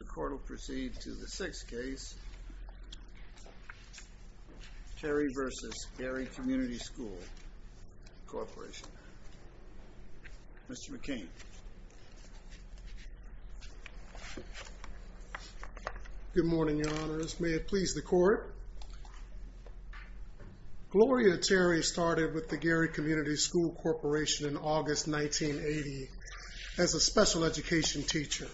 The court will proceed to the sixth case, Terry v. Gary Community School Corporation. Mr. McCain. Good morning, your honors. May it please the court. Gloria Terry started with the Gary Community School Corporation in August 1980 as a special education teacher.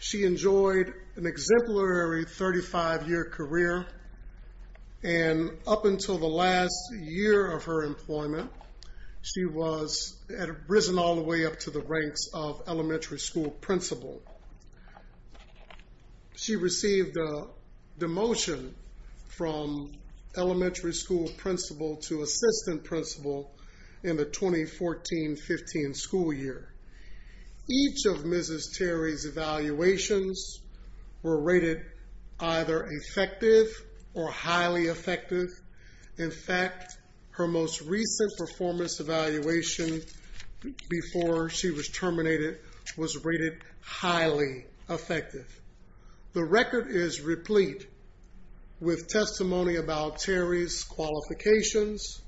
She enjoyed an exemplary 35 year career. And up until the last year of her employment, she was at a prison all the way up to the ranks of elementary school principal. She received a demotion from elementary school principal to assistant principal in the 2014-15 school year. Each of Mrs. Terry's evaluations were rated either effective or highly effective. In fact, her most recent performance evaluation before she was terminated was rated highly effective. The record is replete with testimony about Terry's qualifications.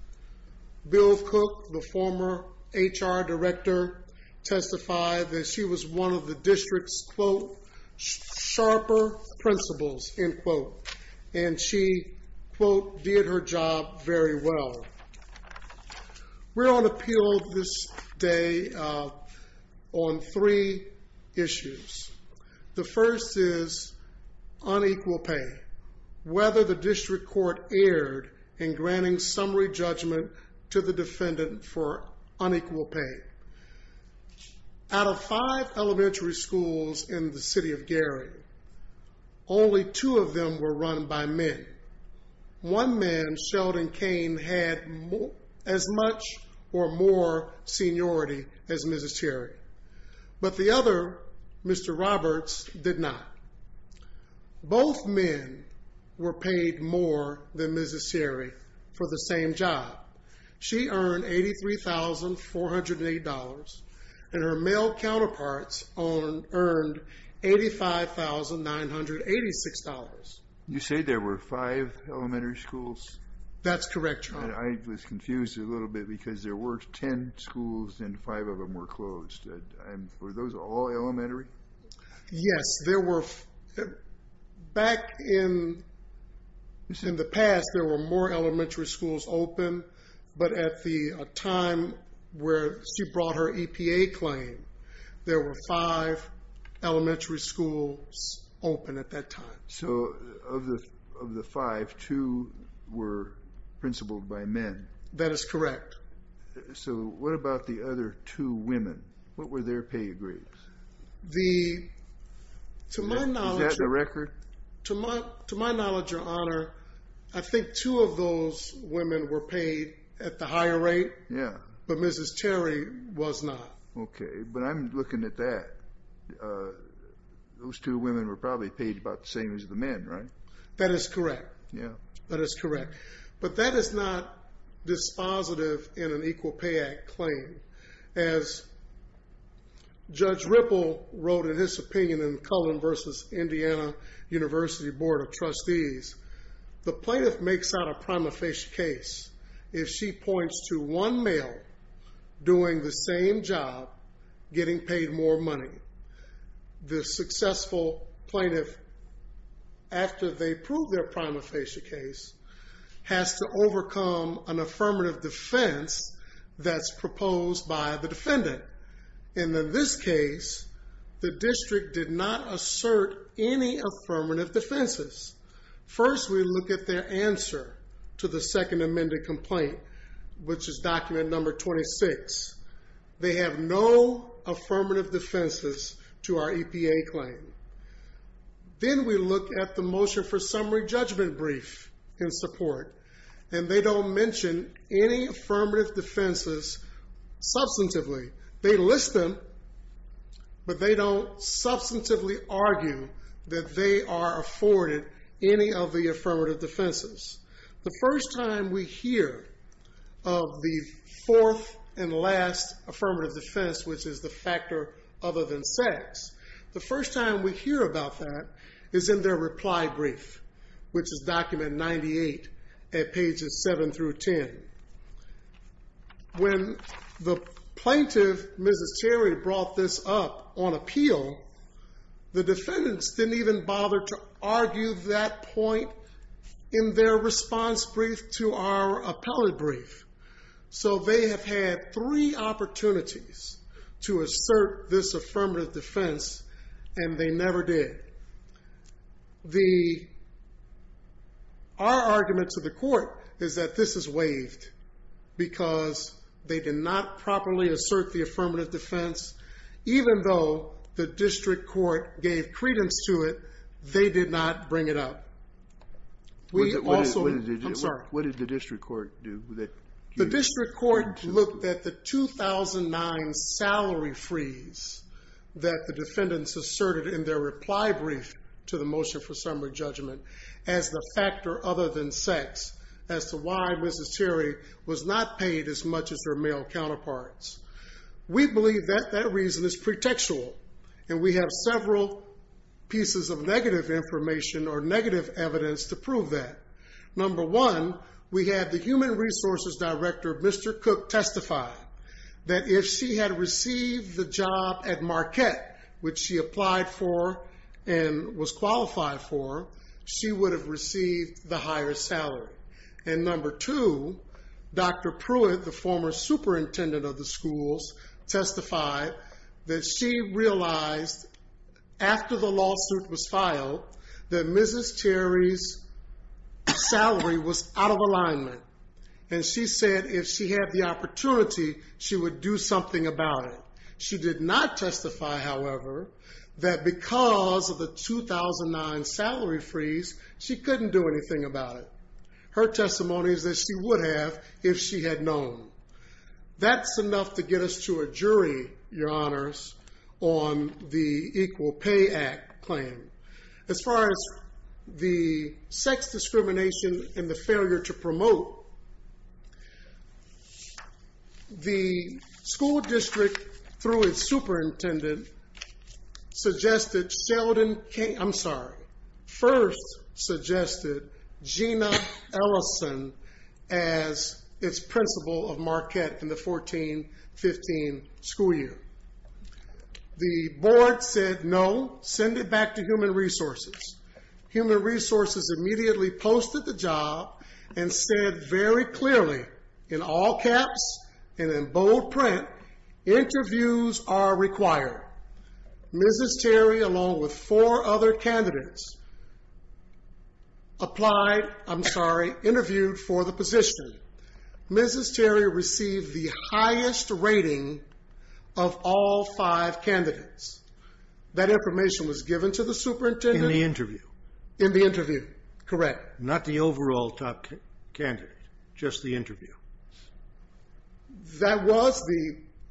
Bill Cook, the former HR director, testified that she was one of the district's, quote, sharper principals, end quote. And she, quote, did her job very well. We're on appeal this day on three issues. The first is unequal pay, whether the district court erred in granting summary judgment to the defendant for unequal pay. Out of five elementary schools in the city of Gary, only two of them were run by men. One man, Sheldon Kane, had as much or more seniority as Mrs. Terry. But the other, Mr. Roberts, did not. Both men were paid more than $85,986. You say there were five elementary schools? That's correct, Your Honor. I was confused a little bit because there were 10 schools and five of them were closed. Were those all elementary? Yes, there were. Back in the past, there were more elementary schools open. But at the time where she brought her EPA claim, there were five elementary schools open at that time. So of the five, two were principled by men? That is correct. So what about the other two women? What were their pay grades? Is that the record? To my knowledge, Your Honor, I think two of those women were paid at the higher rate, but Mrs. Terry was not. Okay. But I'm looking at that. Those two women were probably paid about the same as the men, right? That is correct. That is correct. But that is not dispositive in an Equal Pay Act claim. As Judge Ripple wrote in his opinion in Cullen v. Indiana University Board of Trustees, the plaintiff makes out a prima facie case if she points to one male doing the same job getting paid more money. The successful plaintiff, after they prove their defense, that's proposed by the defendant. And in this case, the district did not assert any affirmative defenses. First, we look at their answer to the second amended complaint, which is document number 26. They have no affirmative defenses to our EPA claim. Then we look at the motion for summary judgment brief in support, and they don't mention any affirmative defenses substantively. They list them, but they don't substantively argue that they are afforded any of the affirmative defenses. The first time we hear of the fourth and last affirmative defense, which is the factor other than sex, the first time we hear about that is in their reply brief, which is document 98 at pages 7 through 10. When the plaintiff, Mrs. Terry, brought this up on appeal, the defendants didn't even bother to argue that point in their response brief to our appellate brief. So they have had three opportunities to assert this affirmative defense, and they never did. Our argument to the court is that this is waived because they did not properly assert the affirmative defense, even though the district court gave credence to it, they did not bring it to the 2009 salary freeze that the defendants asserted in their reply brief to the motion for summary judgment as the factor other than sex as to why Mrs. Terry was not paid as much as their male counterparts. We believe that that reason is pretextual, and we have several pieces of negative information or negative evidence to prove that. Number one, we had the human resources director, Mr. Cook, testify that if she had received the job at Marquette, which she applied for and was qualified for, she would have received the higher salary. And number two, Dr. Pruitt, the former superintendent of the schools, testified that she realized after the lawsuit was filed that Mrs. Terry's salary was out of alignment, and she said if she had the opportunity, she would do something about it. She did not testify, however, that because of the 2009 salary freeze, she couldn't do anything about it. Her testimony is that she would have if she had known. That's enough to get us to a jury, your honors, on the Equal Pay Act claim. As far as the sex discrimination and the failure to promote, the school district, through its superintendent, suggested Sheldon King, I'm sorry, first suggested Gina Ellison as its principal of Marquette in the 14-15 school year. The board said no, send it back to human resources. Human resources immediately posted the job and said very clearly, in all caps and in bold print, interviews are required. Mrs. Terry, along with four other candidates, applied, I'm sorry, interviewed for the position. Mrs. Terry received the highest rating of all five candidates. That information was given to the superintendent? In the interview. In the interview, correct. In the interview. That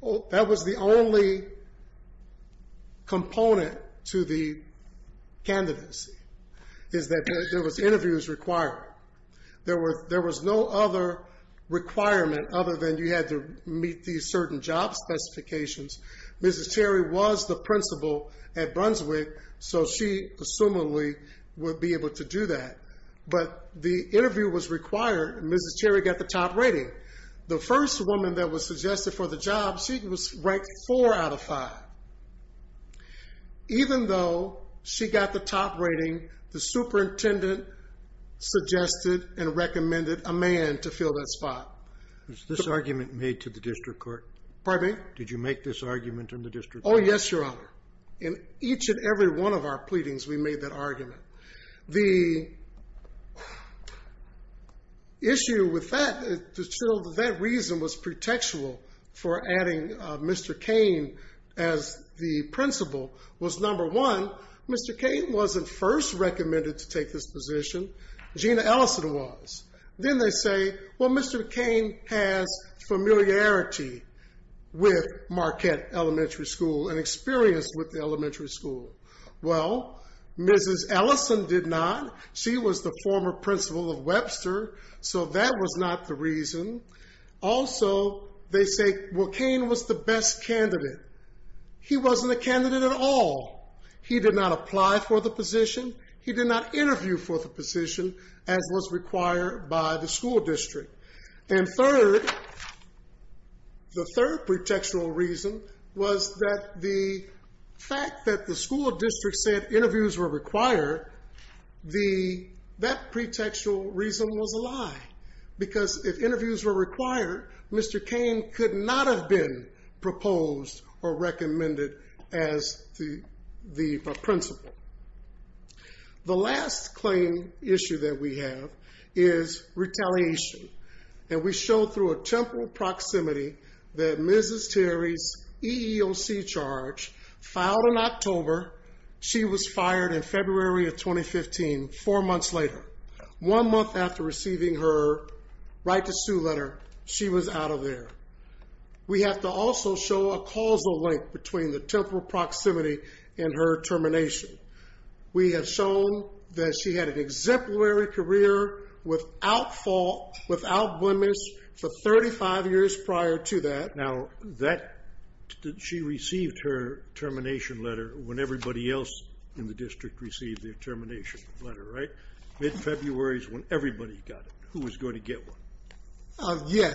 was the only component to the candidacy, is that there was interviews required. There was no other requirement other than you had to meet these certain job specifications. Mrs. Terry was the principal at Brunswick, so she, assumedly, would be able to do that. But the interview was required, and Mrs. Terry got the top rating. The first woman that was suggested for the job, she was ranked four out of five. Even though she got the top rating, the superintendent suggested and recommended a man to fill that spot. Was this argument made to the district court? Pardon me? Did you make this argument in the district court? Oh, yes, your honor. In each and every one of our pleadings, we made that argument. The issue with that, that reason was pretextual for adding Mr. Kane as the principal was, number one, Mr. Kane wasn't first recommended to take this position. Gina Ellison was. Then they say, well, Mr. Kane has familiarity with Marquette Elementary School and experience with the elementary school. Well, Mrs. Ellison did not. She was the former principal of Webster, so that was not the reason. Also, they say, well, Kane was the best candidate. He wasn't a candidate at all. He did not apply for the position. He did not interview for the position, as was required by the school district. And third, the third pretextual reason was that the fact that the school district said interviews were required, that pretextual reason was a lie, because if interviews were required, Mr. Kane could not have been proposed or recommended as the principal. The last claim issue that we have is retaliation. And we show through a temporal proximity that Mrs. Terry's EEOC charge filed in October. She was fired in February of 2015, four months later. One month after receiving her right to sue letter, she was out of there. We have to also show a causal link between the temporal proximity and her termination. We have shown that she had an exemplary career without fault, without blemish, for 35 years prior to that. Now, she received her termination letter when everybody else in the district received their termination letter, right? Mid-February is when everybody got it. Who was going to get one? Yes,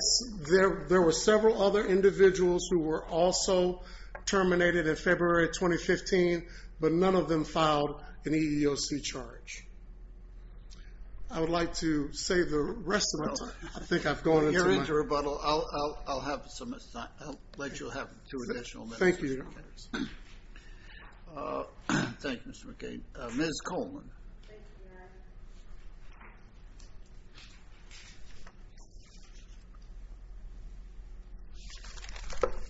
there were several other individuals who were also terminated in February 2015, but none of them filed an EEOC charge. I would like to save the rest of my time. I think I've gone into my... You're into rebuttal. I'll let you have two additional minutes. Thank you. Thank you, Mr. McCain. Ms. Coleman.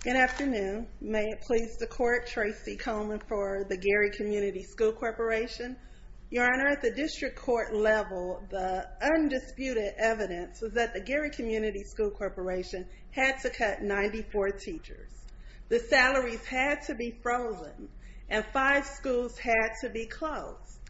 Good afternoon. May it please the court, Tracy Coleman for the Gary Community School Corporation. Your Honor, at the district court level, the undisputed evidence was that the Gary Community School Corporation had to cut 94 teachers. The salaries had to be frozen, and five schools had to be closed.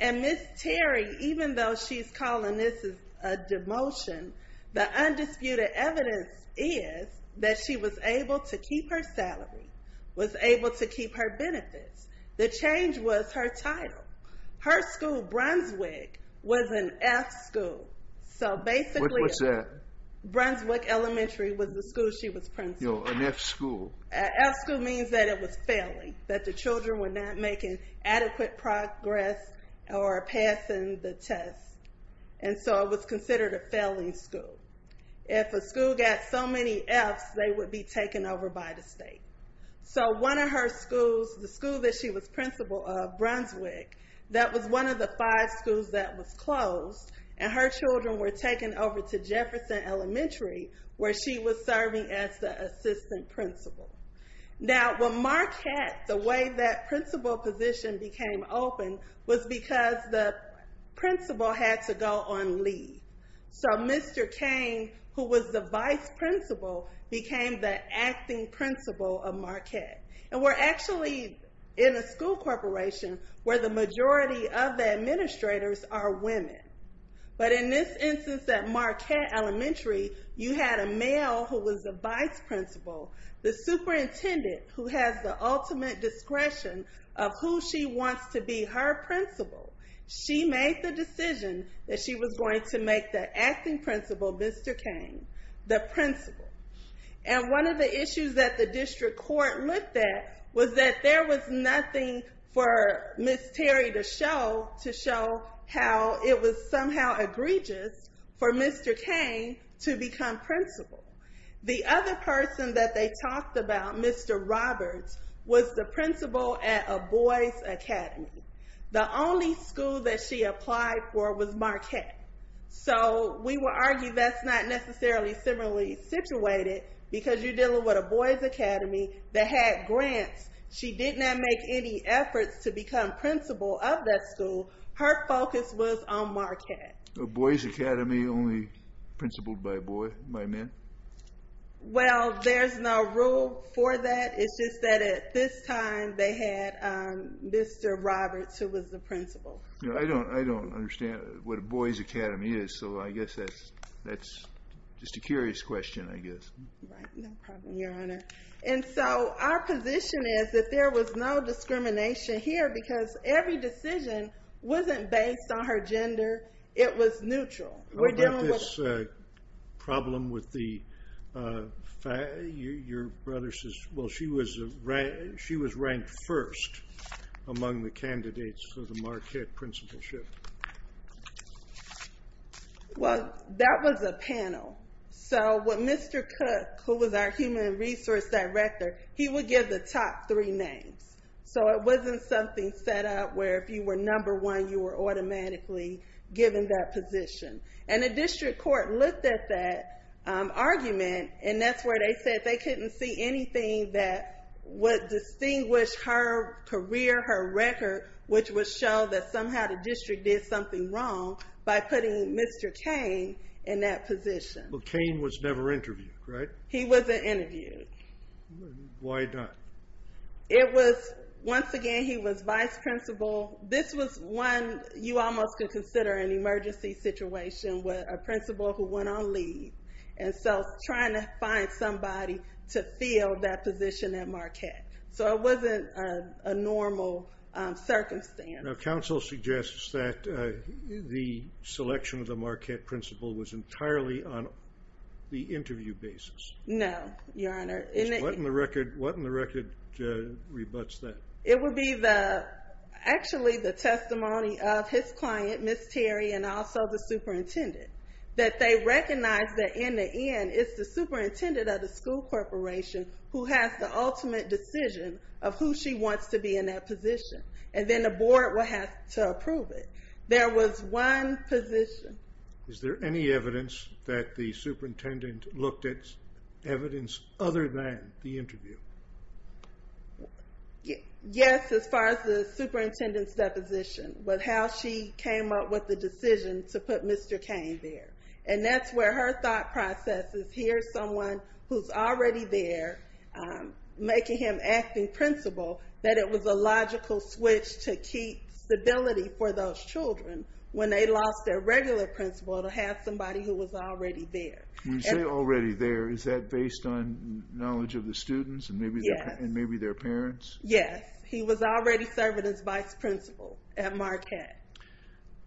And Ms. Terry, even though she's calling this a demotion, the undisputed evidence is that she was able to keep her salary, was able to keep her benefits. The change was her title. Her school, Brunswick, was an F school. So basically... What's that? Brunswick Elementary was the school she was principal at. No, an F school. F school means that it was failing, that the children were not making adequate progress or passing the test. And so it was considered a failing school. If a school got so many Fs, they would be taken over by the state. So one of her schools, the school that she was principal of, Brunswick, that was one of the five schools that was closed. And her children were taken over to Jefferson Elementary, where she was serving as the assistant principal. Now, when Marquette, the way that principal position became open was because the principal had to go on leave. So Mr. Kane, who was the vice principal, became the acting principal of Marquette. And we're actually in a school corporation where the majority of the administrators are women. But in this instance at Marquette Elementary, you had a male who was the vice principal, the superintendent who has the ultimate discretion of who she wants to be her principal. She made the decision that she was going to make the acting principal, Mr. Kane, the principal. And one of the issues that the district court looked at was that there was nothing for Ms. Terry to show how it was somehow egregious for Mr. Kane to become principal. The other person that they talked about, Mr. Roberts, was the principal at a boys' academy. The only school that she applied for was Marquette. So we would argue that's not necessarily similarly situated because you're dealing with a boys' academy that had grants. She did not make any efforts to become principal of that school. Her focus was on Marquette. A boys' academy only principled by boys, by men? Well, there's no rule for that. It's just that at this time, they had Mr. Roberts who was the principal. No, I don't understand what a boys' academy is. So I guess that's just a curious question, I guess. Right. No problem, Your Honor. And so our position is that there was no discrimination here because every decision wasn't based on her gender. It was neutral. How about this problem with your brother's sister? Well, she was ranked first among the candidates for the Marquette principalship. Well, that was a panel. So what Mr. Cook, who was our human resource director, he would give the top three names. So it wasn't something set up where if you were number one, you were automatically given that position. And the district court looked at that argument, and that's where they said they couldn't see anything that would distinguish her career, her record, which would show that somehow the district did something wrong by putting Mr. Kane in that position. But Kane was never interviewed, right? He wasn't interviewed. Why not? It was, once again, he was vice principal. This was one you almost could consider an emergency situation with a principal who went on leave. And so trying to find somebody to fill that position at Marquette. So it wasn't a normal circumstance. Now, counsel suggests that the selection of the Marquette principal was entirely on the interview basis. No, Your Honor. What in the record rebutts that? It would be actually the testimony of his client, Ms. Terry, and also the superintendent. That they recognized that in the end, it's the superintendent of the school corporation who has the ultimate decision of who she wants to be in that position. And then the board will have to approve it. There was one position. Is there any evidence that the superintendent looked at evidence other than the interview? Yes, as far as the superintendent's deposition. But how she came up with the decision to put Mr. Kane there. And that's where her thought process is, here's someone who's already there, making him acting principal, that it was a logical switch to keep stability for those children when they lost their regular principal to have somebody who was already there. When you say already there, is that based on knowledge of the students and the board? And maybe their parents? Yes. He was already serving as vice principal at Marquette.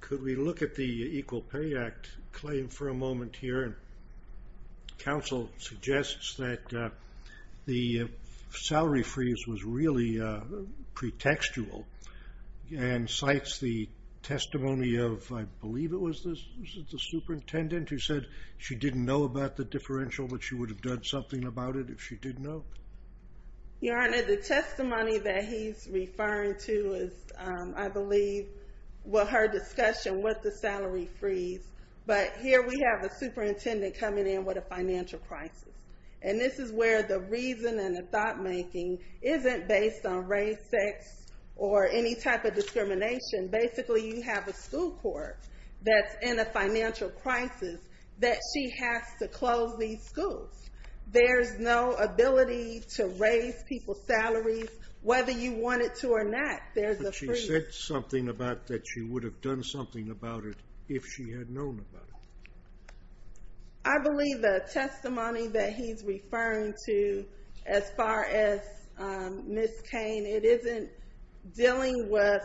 Could we look at the Equal Pay Act claim for a moment here? And counsel suggests that the salary freeze was really pretextual. And cites the testimony of, I believe it was the superintendent who said she didn't know about the differential, but she would have done something about it if she did know. Your Honor, the testimony that he's referring to is, I believe, what her discussion with the salary freeze. But here we have a superintendent coming in with a financial crisis. And this is where the reason and the thought making isn't based on race, sex, or any type of discrimination. Basically, you have a school court that's in a financial crisis that she has to close these schools. There's no ability to raise people's salaries, whether you want it to or not. But she said something about that she would have done something about it if she had known about it. I believe the testimony that he's referring to, as far as Ms. Kane, it isn't dealing with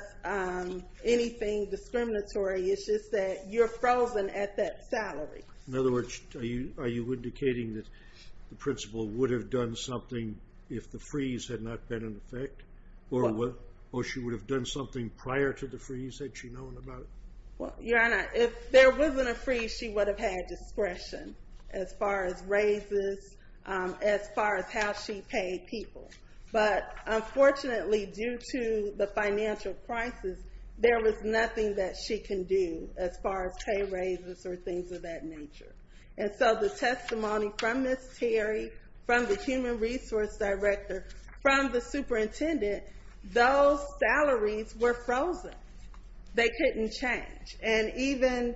anything discriminatory. It's just that you're frozen at that salary. In other words, are you indicating that the principal would have done something if the freeze had not been in effect? Or she would have done something prior to the freeze had she known about it? Well, Your Honor, if there wasn't a freeze, she would have had discretion as far as raises, as far as how she paid people. But unfortunately, due to the financial crisis, there was nothing that she can do as far as raises or things of that nature. And so the testimony from Ms. Terry, from the human resource director, from the superintendent, those salaries were frozen. They couldn't change. And even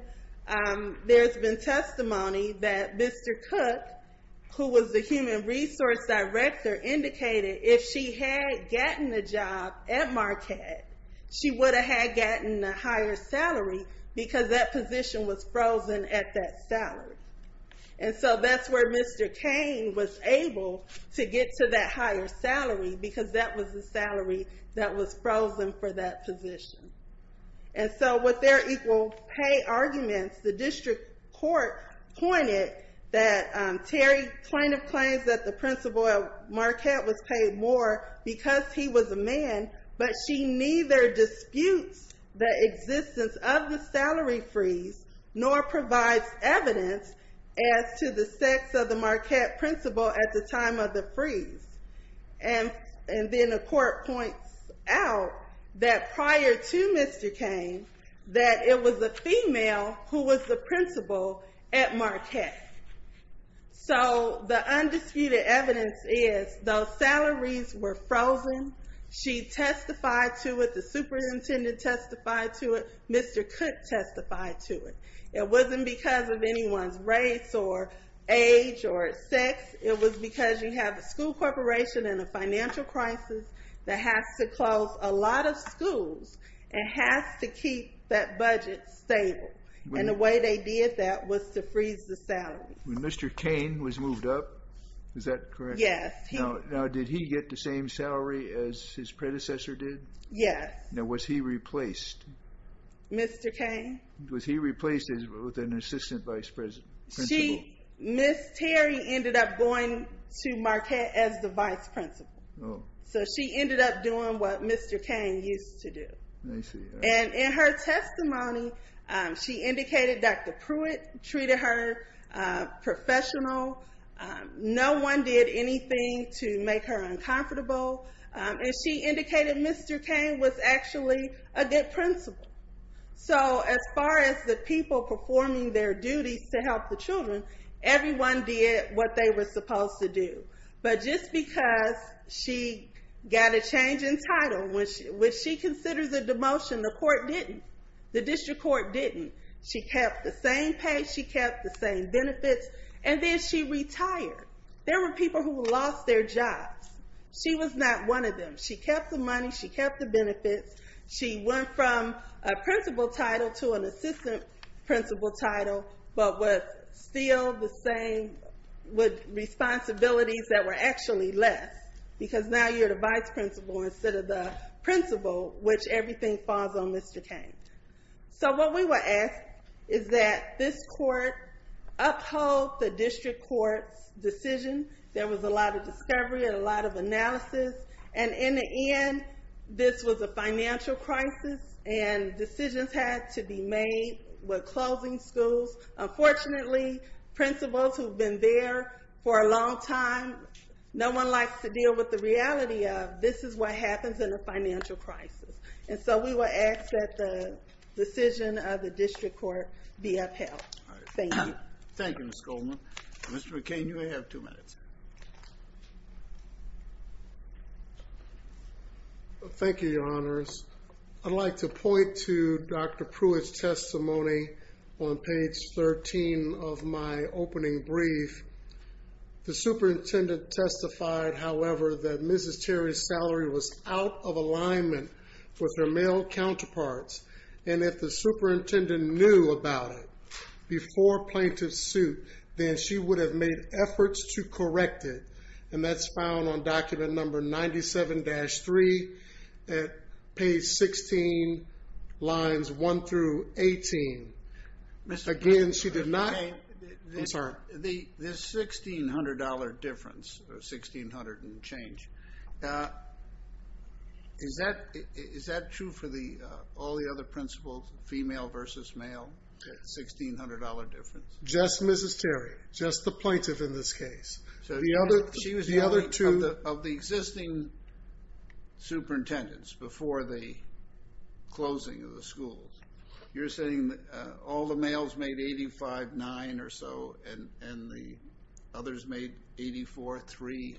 there's been testimony that Mr. Cook, who was the human resource director, indicated if she had gotten a job at Marquette, she would have had gotten a higher salary because that position was frozen at that salary. And so that's where Mr. Kane was able to get to that higher salary because that was the salary that was frozen for that position. And so with their equal pay arguments, the district court pointed that Terry kind of claims that the principal at Marquette was paid more because he was a man, but she neither disputes the existence of the salary freeze nor provides evidence as to the sex of the Marquette principal at the time of the freeze. And then the court points out that prior to Mr. Kane, that it was a female who was the principal at Marquette. So the undisputed evidence is those salaries were frozen. She testified to it. The superintendent testified to it. Mr. Cook testified to it. It wasn't because of anyone's race or age or sex. It was because you have a school corporation and a financial crisis that has to close a lot of schools and has to keep that budget stable. And the way they did that was to freeze the salary. When Mr. Kane was moved up, is that correct? Yes. Now, did he get the same salary as his predecessor did? Yes. Now, was he replaced? Mr. Kane. Was he replaced with an assistant vice principal? Ms. Terry ended up going to Marquette as the vice principal. So she ended up doing what Mr. Kane used to do. I see. And in her testimony, she indicated Dr. Pruitt treated her professional. No one did anything to make her uncomfortable. And she indicated Mr. Kane was actually a good principal. So as far as the people performing their duties to help the children, everyone did what they were supposed to do. But just because she got a change in title, which she considers a demotion, the court didn't. The district court didn't. She kept the same pay. She kept the same benefits. And then she retired. There were people who lost their jobs. She was not one of them. She kept the money. She kept the benefits. She went from a principal title to an assistant principal title, but was still the same with responsibilities that were actually less. Because now you're the vice principal instead of the principal, which everything falls on Mr. Kane. So what we were asked is that this court uphold the district court's decision. There was a lot of discovery and a lot of analysis. And in the end, this was a financial crisis. And decisions had to be made with closing schools. Unfortunately, principals who've been there for a long time, no one likes to deal with the reality of this is what happens in a financial crisis. And so we were asked that the decision of the district court be upheld. Thank you. Thank you, Ms. Goldman. Mr. Kane, you may have two minutes. Thank you, Your Honors. I'd like to point to Dr. Pruitt's testimony on page 13 of my opening brief. The superintendent testified, however, that Mrs. Terry's salary was out of alignment with her male counterparts. And if the superintendent knew about it before plaintiff's suit, then she would have made efforts to correct it. And that's found on document number 97-3 at page 16, lines 1 through 18. Again, she did not... I'm sorry. This $1,600 difference, or $1,600 and change, is that true for all the other principals, female versus male, $1,600 difference? Just Mrs. Terry. Just the plaintiff in this case. She was the other two... Of the existing superintendents before the closing of the schools, you're saying all the males made $85,900 or so, and the others made $84,308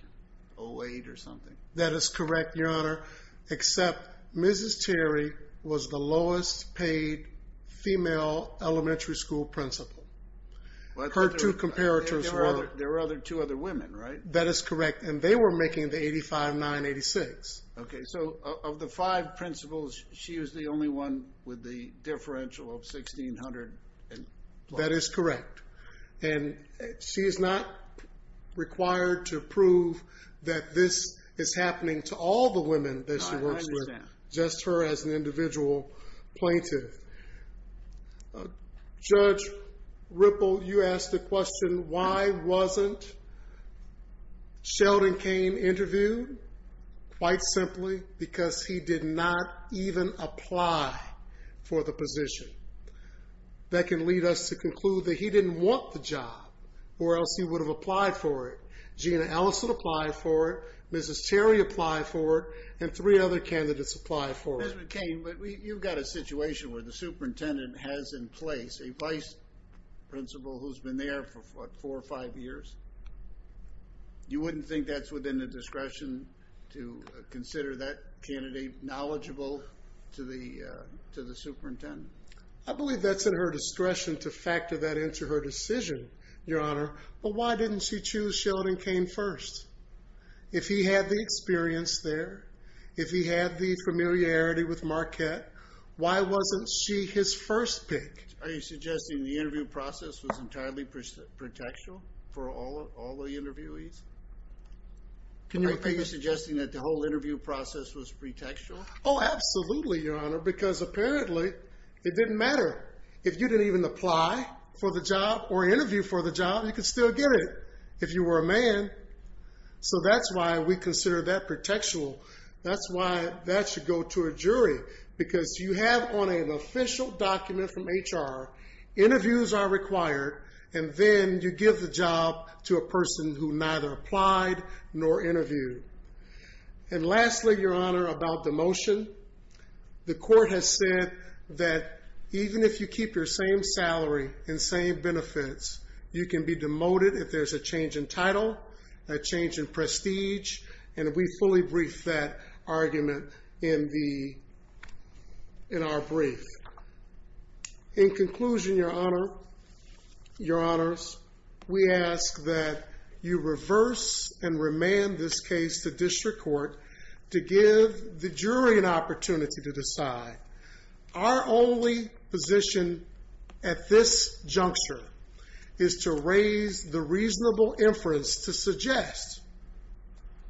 or something? That is correct, Your Honor. Except Mrs. Terry was the lowest paid female elementary school principal. Her two comparators were... There were two other women, right? That is correct. And they were making the $85,986. Okay. So of the five principals, she was the only one with the differential of $1,600 and plus. That is correct. And she is not required to prove that this is happening to all the women that she works with, just her as an individual plaintiff. Judge Ripple, you asked the question, why wasn't Sheldon Kane interviewed? Quite simply, because he did not even apply for the position. That can lead us to conclude that he didn't want the job, or else he would have applied for it. Gina Ellison applied for it. Mrs. Terry applied for it. And three other candidates applied for it. Mr. Kane, but you've got a situation where the superintendent has in place a vice principal who's been there for, what, four or five years? You wouldn't think that's within the discretion to consider that candidate knowledgeable to the superintendent? I believe that's at her discretion to factor that into her decision, Your Honor. But why didn't she choose Sheldon Kane first? If he had the experience there, if he had the familiarity with Marquette, why wasn't she his first pick? Are you suggesting the interview process was entirely protectional for all of them? All the interviewees? Can you repeat? Are you suggesting that the whole interview process was pretextual? Oh, absolutely, Your Honor, because apparently it didn't matter. If you didn't even apply for the job or interview for the job, you could still get it, if you were a man. So that's why we consider that pretextual. That's why that should go to a jury, because you have on an official document from HR, interviews are required, and then you give the job to a person who neither applied nor interviewed. And lastly, Your Honor, about demotion. The court has said that even if you keep your same salary and same benefits, you can be demoted if there's a change in title, a change in prestige, and we fully brief that argument in our brief. In conclusion, Your Honor, Your Honors, we ask that you reverse and remand this case to district court to give the jury an opportunity to decide. Our only position at this juncture is to raise the reasonable inference to suggest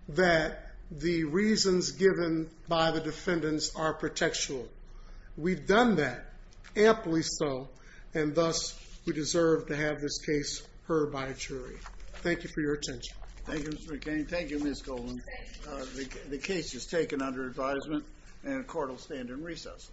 that the reasons given by the defendants are pretextual. We've done that, amply so, and thus we deserve to have this case heard by a jury. Thank you for your attention. Thank you, Mr. McCain. Thank you, Ms. Goldman. The case is taken under advisement, and the court will stand in recess.